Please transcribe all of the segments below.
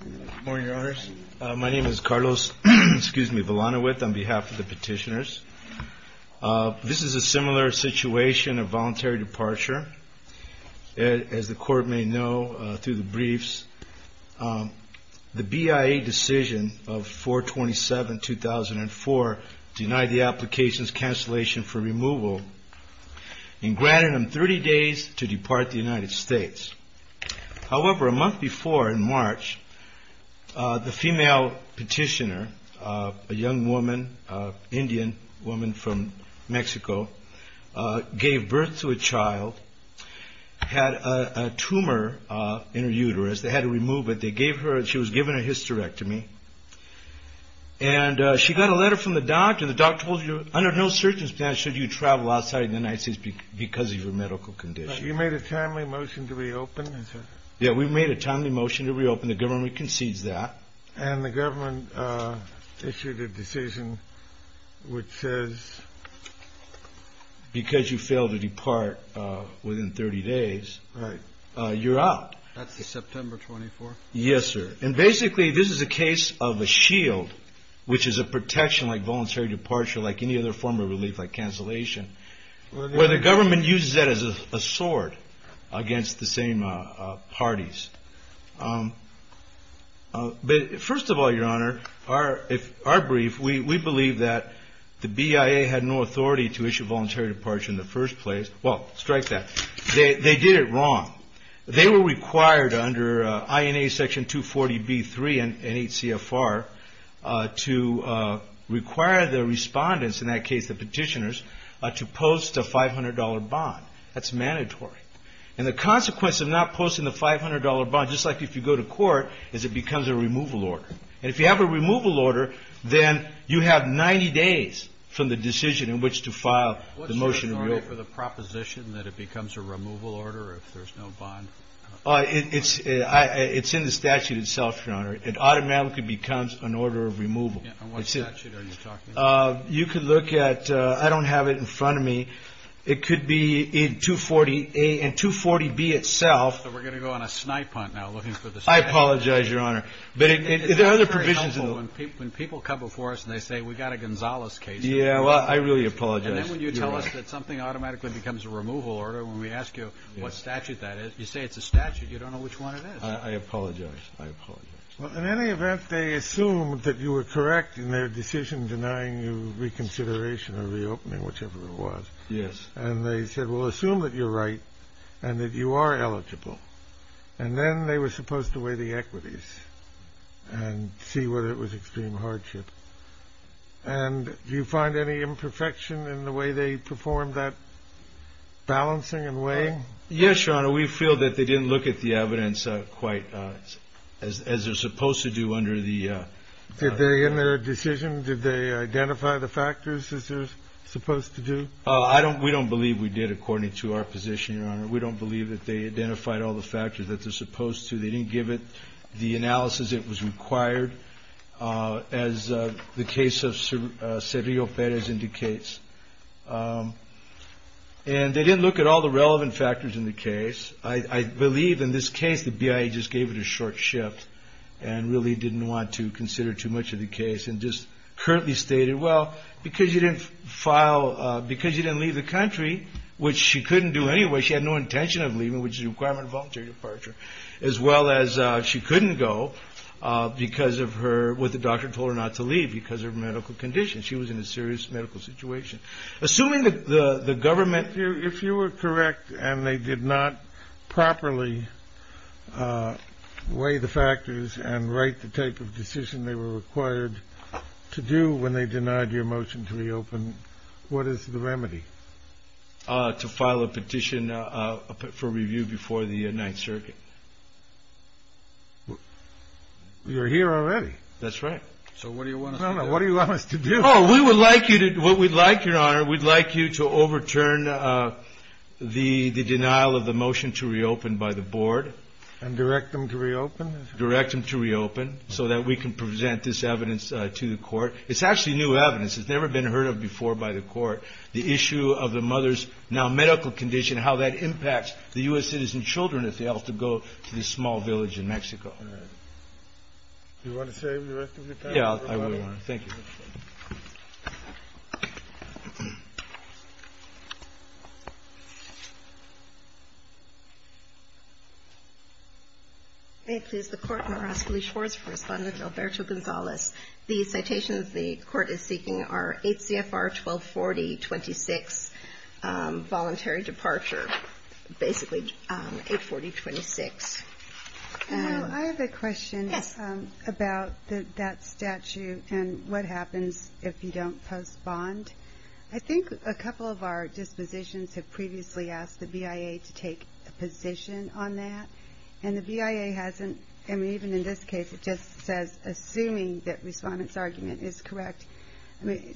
Good morning, your honors. My name is Carlos Villanueva on behalf of the petitioners. This is a similar situation of voluntary departure. As the court may know through the briefs, the BIA decision of 4-27-2004 denied the application's cancellation for removal and granted them 30 days to depart the United States. However, a month before, in March, the female petitioner, a young woman, Indian woman from Mexico, gave birth to a child, had a tumor in her uterus. They had to remove it. They gave her, she was given a hysterectomy. And she got a letter from the doctor. The doctor told her, under no circumstances should you travel outside the United States because of your medical condition. You made a timely motion to reopen? Yeah, we made a timely motion to reopen. The government concedes that. And the government issued a decision which says? Because you failed to depart within 30 days, you're out. That's the September 24th? Yes, sir. And basically, this is a case of a shield, which is a protection like voluntary departure, like any other form of relief, like cancellation, where the government uses that as a sword against the same parties. But first of all, Your Honor, our brief, we believe that the BIA had no authority to issue voluntary departure in the first place. Well, strike that. They did it wrong. They were required under INA Section 240B-3 and 8 CFR to require the respondents, in that case the petitioners, to post a $500 bond. That's mandatory. And the consequence of not posting the $500 bond, just like if you go to court, is it becomes a removal order. And if you have a removal order, then you have 90 days from the decision in which to file the motion to reopen. What's your authority for the proposition that it becomes a removal order if there's no bond? It's in the statute itself, Your Honor. It automatically becomes an order of removal. And what statute are you talking about? You could look at, I don't have it in front of me. It could be in 240A and 240B itself. So we're going to go on a snipe hunt now looking for the statute. I apologize, Your Honor. But there are other provisions. It's very helpful when people come before us and they say, we got a Gonzales case. Yeah, well, I really apologize. And then when you tell us that something automatically becomes a removal order, when we ask you what statute that is, you say it's a statute. You don't know which one it is. I apologize. I apologize. In any event, they assumed that you were correct in their decision denying you reconsideration or reopening, whichever it was. Yes. And they said, well, assume that you're right and that you are eligible. And then they were supposed to weigh the equities and see whether it was extreme hardship. And do you find any imperfection in the way they performed that balancing and weighing? Yes, Your Honor. We feel that they didn't look at the evidence quite as they're supposed to do under the. Did they in their decision, did they identify the factors as they're supposed to do? I don't we don't believe we did, according to our position. We don't believe that they identified all the factors that they're supposed to. They didn't give it the analysis it was required. As the case of Sergio Perez indicates. And they didn't look at all the relevant factors in the case. I believe in this case, the BIA just gave it a short shift and really didn't want to consider too much of the case and just currently stated, well, because you didn't file because you didn't leave the country, which she couldn't do anyway. She had no intention of leaving, which is a requirement of voluntary departure, as well as she couldn't go because of her. What the doctor told her not to leave because of medical conditions. She was in a serious medical situation. Assuming that the government, if you were correct and they did not properly weigh the factors and write the type of decision they were required to do when they denied your motion to reopen. What is the remedy to file a petition for review before the Ninth Circuit? You're here already. That's right. So what do you want? What do you want us to do? Oh, we would like you to what we'd like your honor. We'd like you to overturn the denial of the motion to reopen by the board and direct them to reopen, direct them to reopen so that we can present this evidence to the court. It's actually new evidence. It's never been heard of before by the court. The issue of the mother's now medical condition, how that impacts the U.S. citizen children if they have to go to this small village in Mexico. Do you want to save the rest of your time? Yeah, I really want to. Thank you. Thank you. Thank you. The court has responded to Alberto Gonzalez. The citations the court is seeking are 8 CFR 1240 26 voluntary departure, basically 840 26. I have a question about that statute and what happens if you don't post bond. I think a couple of our dispositions have previously asked the BIA to take a position on that. And the BIA hasn't. And even in this case, it just says, assuming that respondent's argument is correct.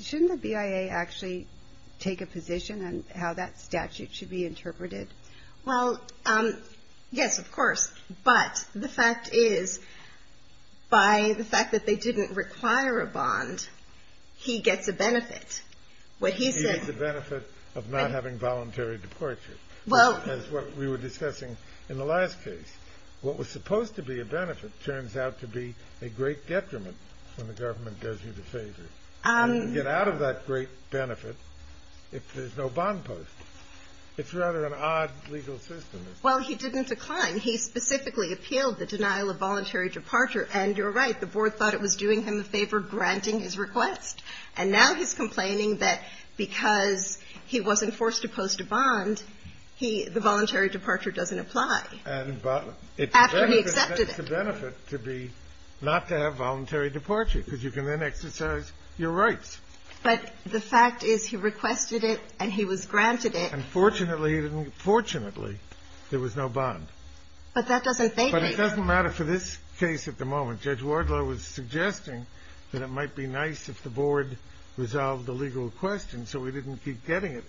Shouldn't the BIA actually take a position on how that statute should be interpreted? Well, yes, of course. But the fact is, by the fact that they didn't require a bond, he gets a benefit. He gets the benefit of not having voluntary departure, as what we were discussing in the last case. What was supposed to be a benefit turns out to be a great detriment when the government does you the favor. You get out of that great benefit if there's no bond post. It's rather an odd legal system. Well, he didn't decline. He specifically appealed the denial of voluntary departure. And you're right. The board thought it was doing him a favor, granting his request. And now he's complaining that because he wasn't forced to post a bond, he the voluntary departure doesn't apply. And it's a benefit to be not to have voluntary departure, because you can then exercise your rights. But the fact is, he requested it and he was granted it. And fortunately, he didn't. Fortunately, there was no bond. But that doesn't make me. But it doesn't matter for this case at the moment. Judge Wardlaw was suggesting that it might be nice if the board resolved the legal question so we didn't keep getting it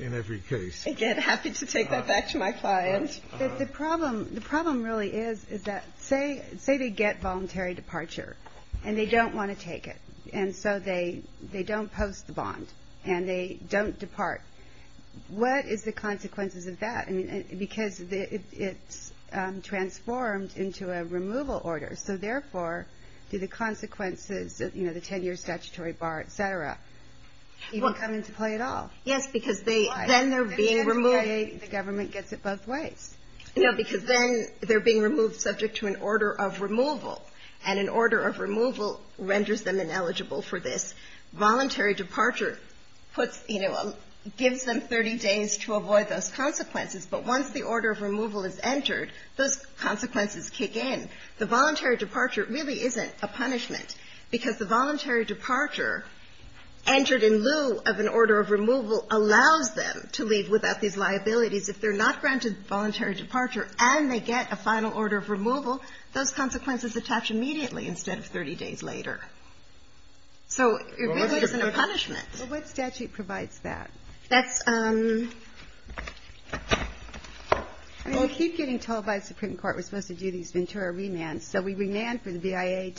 in every case. Again, happy to take that back to my client. The problem really is, is that say they get voluntary departure and they don't want to take it. And so they don't post the bond and they don't depart. What is the consequences of that? Because it's transformed into a removal order. So, therefore, do the consequences, you know, the 10-year statutory bar, et cetera, even come into play at all? Yes, because then they're being removed. The government gets it both ways. No, because then they're being removed subject to an order of removal. And an order of removal renders them ineligible for this. Voluntary departure puts, you know, gives them 30 days to avoid those consequences. But once the order of removal is entered, those consequences kick in. The voluntary departure really isn't a punishment because the voluntary departure entered in lieu of an order of removal allows them to leave without these liabilities. If they're not granted voluntary departure and they get a final order of removal, those consequences attach immediately instead of 30 days later. So it really isn't a punishment. Well, what statute provides that? That's ‑‑ I mean, I keep getting told by the Supreme Court we're supposed to do these Ventura remands. So we remand for the BIA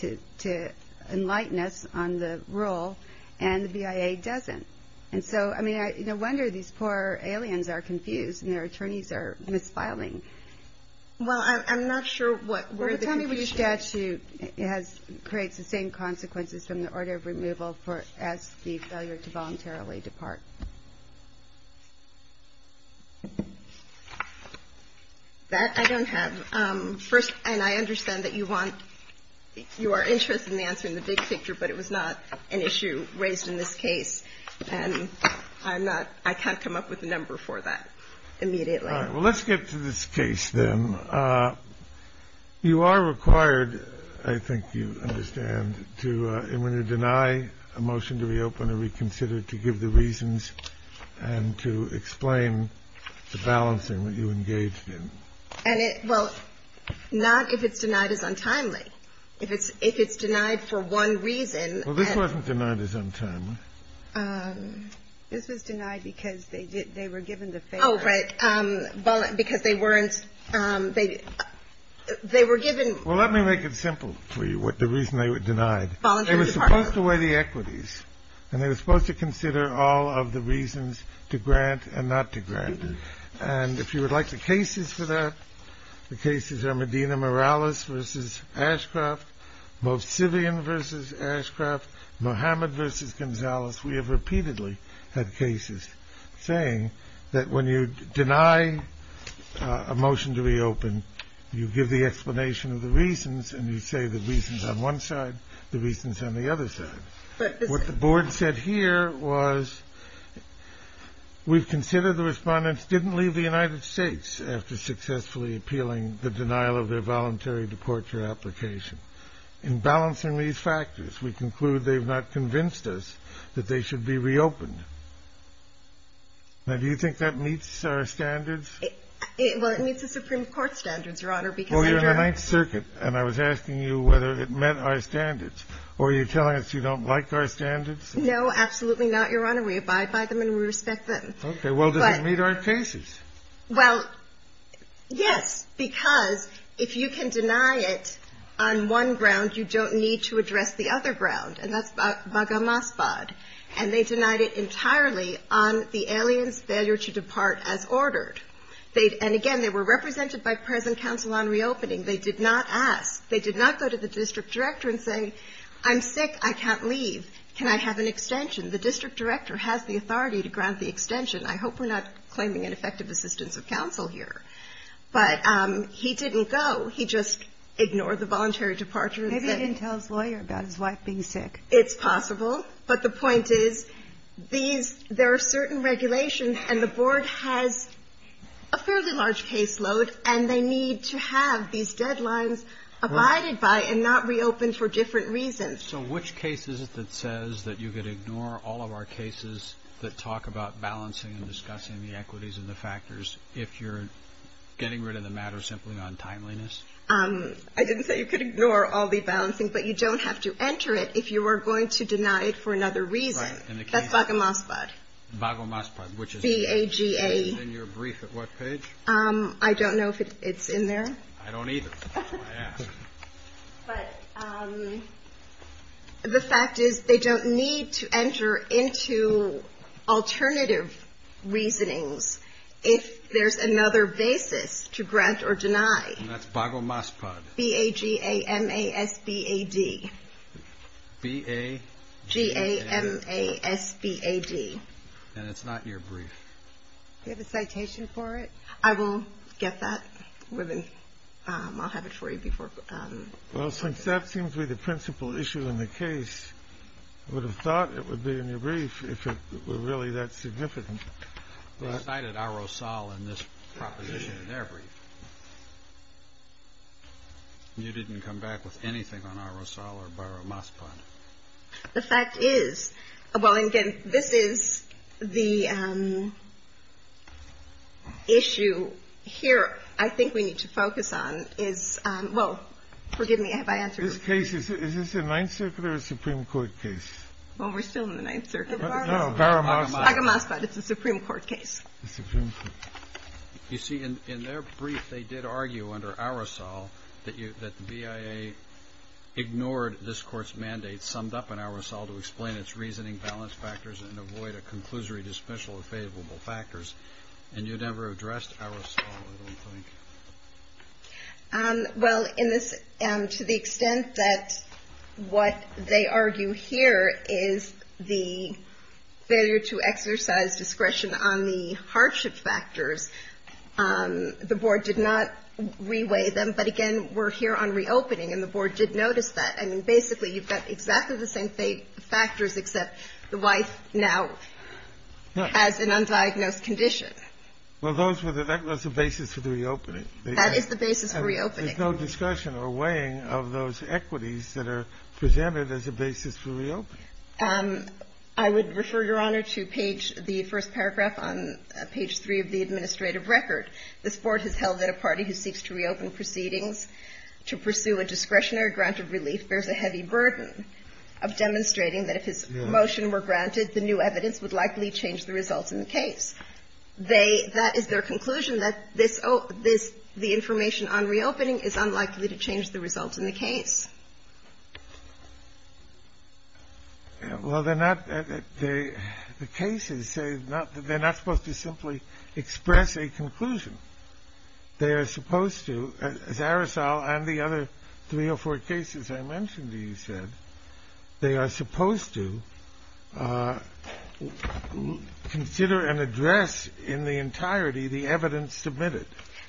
to enlighten us on the rule, and the BIA doesn't. And so, I mean, no wonder these poor aliens are confused and their attorneys are misfiling. Well, I'm not sure what ‑‑ Well, tell me which statute creates the same consequences from the order of removal as the failure to voluntarily depart. That I don't have. First, and I understand that you want ‑‑ you are interested in answering the big picture, but it was not an issue raised in this case. And I'm not ‑‑ I can't come up with a number for that immediately. All right. Well, let's get to this case then. You are required, I think you understand, to ‑‑ and when you deny a motion to reopen or reconsider, to give the reasons and to explain the balancing that you engaged in. And it ‑‑ well, not if it's denied as untimely. If it's denied for one reason. Well, this wasn't denied as untimely. This was denied because they were given the ‑‑ Oh, right. Because they weren't ‑‑ they were given ‑‑ Well, let me make it simple for you, the reason they were denied. They were supposed to weigh the equities. And they were supposed to consider all of the reasons to grant and not to grant. And if you would like the cases for that, the cases are Medina Morales versus Ashcroft, Mosavian versus Ashcroft, Mohammed versus Gonzales. We have repeatedly had cases saying that when you deny a motion to reopen, you give the explanation of the reasons and you say the reasons on one side, the reasons on the other side. What the board said here was, we've considered the respondents didn't leave the United States after successfully appealing the denial of their voluntary deportation application. In balancing these factors, we conclude they've not convinced us that they should be reopened. Now, do you think that meets our standards? Well, it meets the Supreme Court standards, Your Honor, because ‑‑ Well, you're in the Ninth Circuit, and I was asking you whether it met our standards. Or are you telling us you don't like our standards? No, absolutely not, Your Honor. We abide by them and we respect them. Okay. Well, does it meet our cases? Well, yes. Because if you can deny it on one ground, you don't need to address the other ground. And that's Baga Masbad. And they denied it entirely on the aliens' failure to depart as ordered. And, again, they were represented by present counsel on reopening. They did not ask. They did not go to the district director and say, I'm sick, I can't leave, can I have an extension? The district director has the authority to grant the extension. I hope we're not claiming ineffective assistance of counsel here. But he didn't go. He just ignored the voluntary departure. Maybe he didn't tell his lawyer about his wife being sick. It's possible. But the point is, these ‑‑ there are certain regulations, and the Board has a fairly large caseload, and they need to have these deadlines abided by and not reopen for different reasons. So which case is it that says that you could ignore all of our cases that talk about balancing and discussing the equities and the factors if you're getting rid of the matter simply on timeliness? I didn't say you could ignore all the balancing, but you don't have to enter it if you are going to deny it for another reason. Right. That's Baga Masbad. Baga Masbad. B-A-G-A. And your brief at what page? I don't know if it's in there. I don't either. That's why I asked. But the fact is they don't need to enter into alternative reasonings if there's another basis to grant or deny. That's Baga Masbad. B-A-G-A-M-A-S-B-A-D. B-A-G-A-M-A-S-B-A-D. And it's not your brief. Do you have a citation for it? I will get that. I'll have it for you before. Well, since that seems to be the principal issue in the case, I would have thought it would be in your brief if it were really that significant. They cited Ar-Rosal in this proposition in their brief. You didn't come back with anything on Ar-Rosal or Baga Masbad. The fact is, well, again, this is the issue here I think we need to focus on is on – well, forgive me, have I answered your question? This case, is this the Ninth Circuit or a Supreme Court case? Well, we're still in the Ninth Circuit. No, Baga Masbad. Baga Masbad. It's a Supreme Court case. You see, in their brief, they did argue under Ar-Rosal that the BIA ignored this Supreme Court's mandate summed up in Ar-Rosal to explain its reasoning, balance factors, and avoid a conclusory dismissal of favorable factors. And you never addressed Ar-Rosal, I don't think. Well, to the extent that what they argue here is the failure to exercise discretion on the hardship factors, the Board did not reweigh them. But, again, we're here on reopening, and the Board did notice that. I mean, basically, you've got exactly the same factors except the wife now has an undiagnosed condition. Well, those were the – that was the basis for the reopening. That is the basis for reopening. There's no discussion or weighing of those equities that are presented as a basis for reopening. I would refer, Your Honor, to page – the first paragraph on page 3 of the administrative record. This Board has held that a party who seeks to reopen proceedings to pursue a discretionary granted relief bears a heavy burden of demonstrating that if his motion were granted, the new evidence would likely change the results in the case. They – that is their conclusion, that this – the information on reopening is unlikely to change the results in the case. Well, they're not – the cases, they're not supposed to simply express a conclusion. They are supposed to – as Aracel and the other three or four cases I mentioned to you said, they are supposed to consider and address in the entirety the evidence submitted.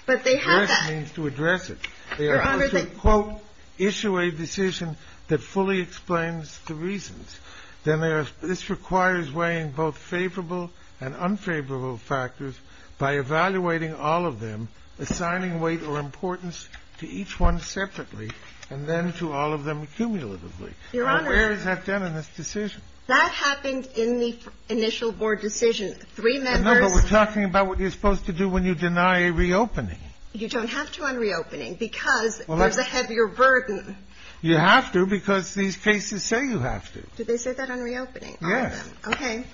But they have that. Address means to address it. Your Honor, they – They are supposed to, quote, issue a decision that fully explains the reasons. This requires weighing both favorable and unfavorable factors by evaluating all of them, assigning weight or importance to each one separately, and then to all of them cumulatively. Your Honor – Where is that done in this decision? That happened in the initial Board decision. Three members – But we're talking about what you're supposed to do when you deny a reopening. You don't have to on reopening because there's a heavier burden. You have to because these cases say you have to. Did they say that on reopening? Yes. Okay.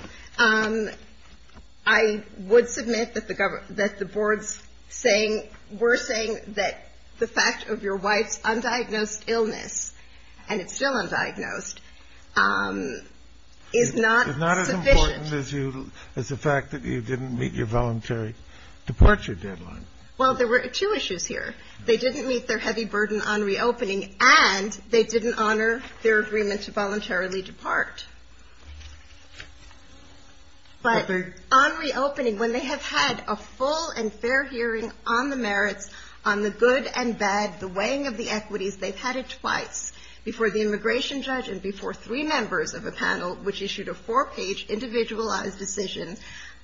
I would submit that the Board's saying – we're saying that the fact of your wife's undiagnosed illness, and it's still undiagnosed, is not sufficient. It's not as important as you – as the fact that you didn't meet your voluntary departure deadline. Well, there were two issues here. They didn't meet their heavy burden on reopening, and they didn't honor their agreement to voluntarily depart. But on reopening, when they have had a full and fair hearing on the merits, on the good and bad, the weighing of the equities, they've had it twice, before the immigration judge and before three members of a panel, which issued a four-page, individualized decision,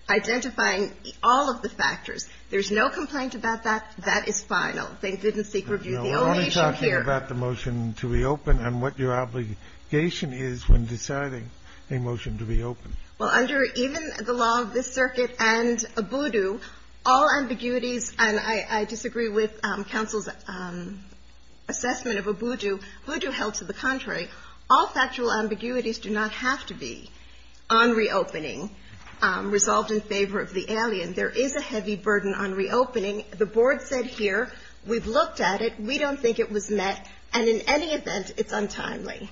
identifying all of the factors. There's no complaint about that. That is final. They didn't seek review. We're only talking about the motion to reopen and what your obligation is when deciding a motion to reopen. Well, under even the law of this circuit and ABUDU, all ambiguities, and I disagree with counsel's assessment of ABUDU. ABUDU held to the contrary. All factual ambiguities do not have to be on reopening resolved in favor of the alien. There is a heavy burden on reopening. The board said here, we've looked at it. We don't think it was met. And in any event, it's untimely.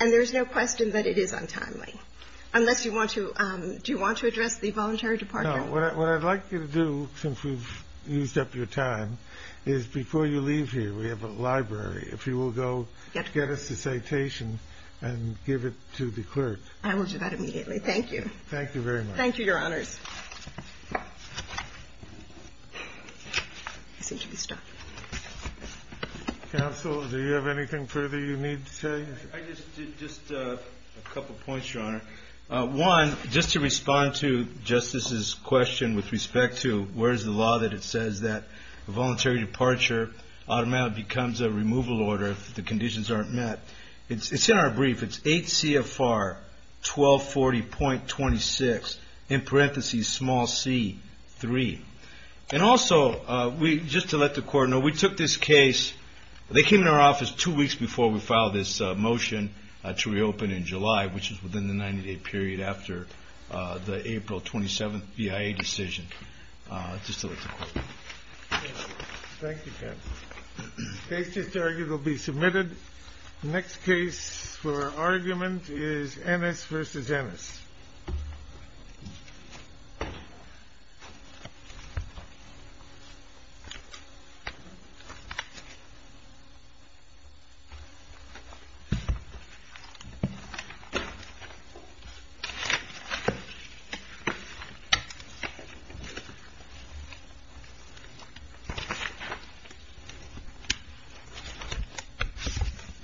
And there's no question that it is untimely. Unless you want to do you want to address the voluntary departure? No. What I'd like you to do, since we've used up your time, is before you leave here, we have a library. If you will go get us the citation and give it to the clerk. I will do that immediately. Thank you. Thank you very much. Thank you, Your Honors. I seem to be stuck. Counsel, do you have anything further you need to say? I just did just a couple points, Your Honor. One, just to respond to Justice's question with respect to where's the law that it says that voluntary departure automatically becomes a removal order if the conditions aren't met. It's in our brief. It's 8 CFR 1240.26. In parentheses, small c, three. And also, just to let the Court know, we took this case. They came to our office two weeks before we filed this motion to reopen in July, which is within the 90-day period after the April 27th BIA decision. Just to let the Court know. Thank you, counsel. The case just argued will be submitted. The next case for argument is Ennis v. Ennis.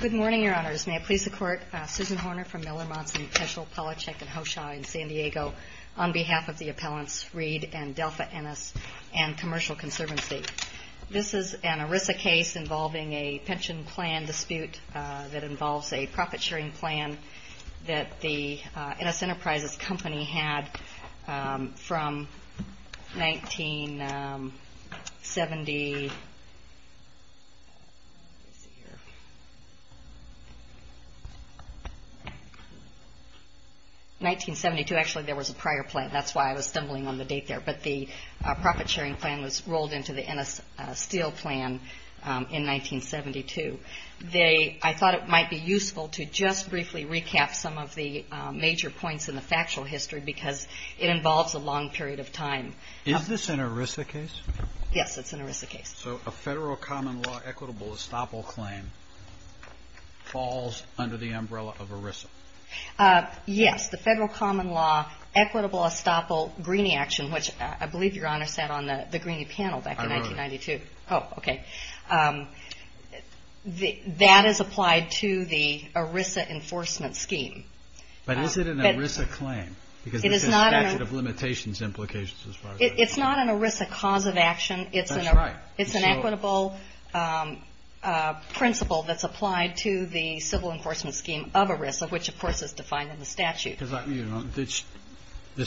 Good morning, Your Honors. May it please the Court. Susan Horner from Miller, Monson, Peschel, Palachuk, and Hoshaw in San Diego on behalf of the appellants Reed and Delpha Ennis and Commercial Conservancy. This is an ERISA case involving a pension plan dispute that involves a profit-sharing plan that the Ennis Enterprises Company had from 1970. 1972. Actually, there was a prior plan. That's why I was stumbling on the date there. But the profit-sharing plan was rolled into the Ennis Steel Plan in 1972. I thought it might be useful to just briefly recap some of the major points in the factual history because it involves a long period of time. Is this an ERISA case? Yes, it's an ERISA case. So a federal common law equitable estoppel claim falls under the umbrella of ERISA? Yes. The federal common law equitable estoppel Greeney action, which I believe Your Honor sat on the Greeney panel back in 1992. I wrote it. Oh, okay. That is applied to the ERISA enforcement scheme. But is it an ERISA claim? Because it says statute of limitations implications as far as I know. It's not an ERISA cause of action. That's right. It's an equitable principle that's applied to the civil enforcement scheme of ERISA, which, of course, is defined in the statute. This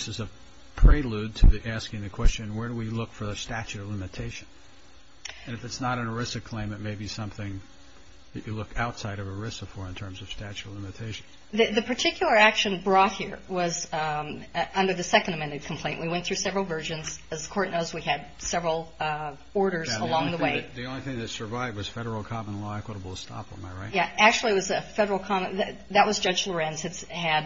is a prelude to asking the question, where do we look for the statute of limitation? And if it's not an ERISA claim, it may be something that you look outside of ERISA for in terms of statute of limitation. The particular action brought here was under the second amended complaint. We went through several versions. As the court knows, we had several orders along the way. The only thing that survived was federal common law equitable estoppel. Am I right? Yeah. Actually, it was a federal common law. That was Judge Lorenz had.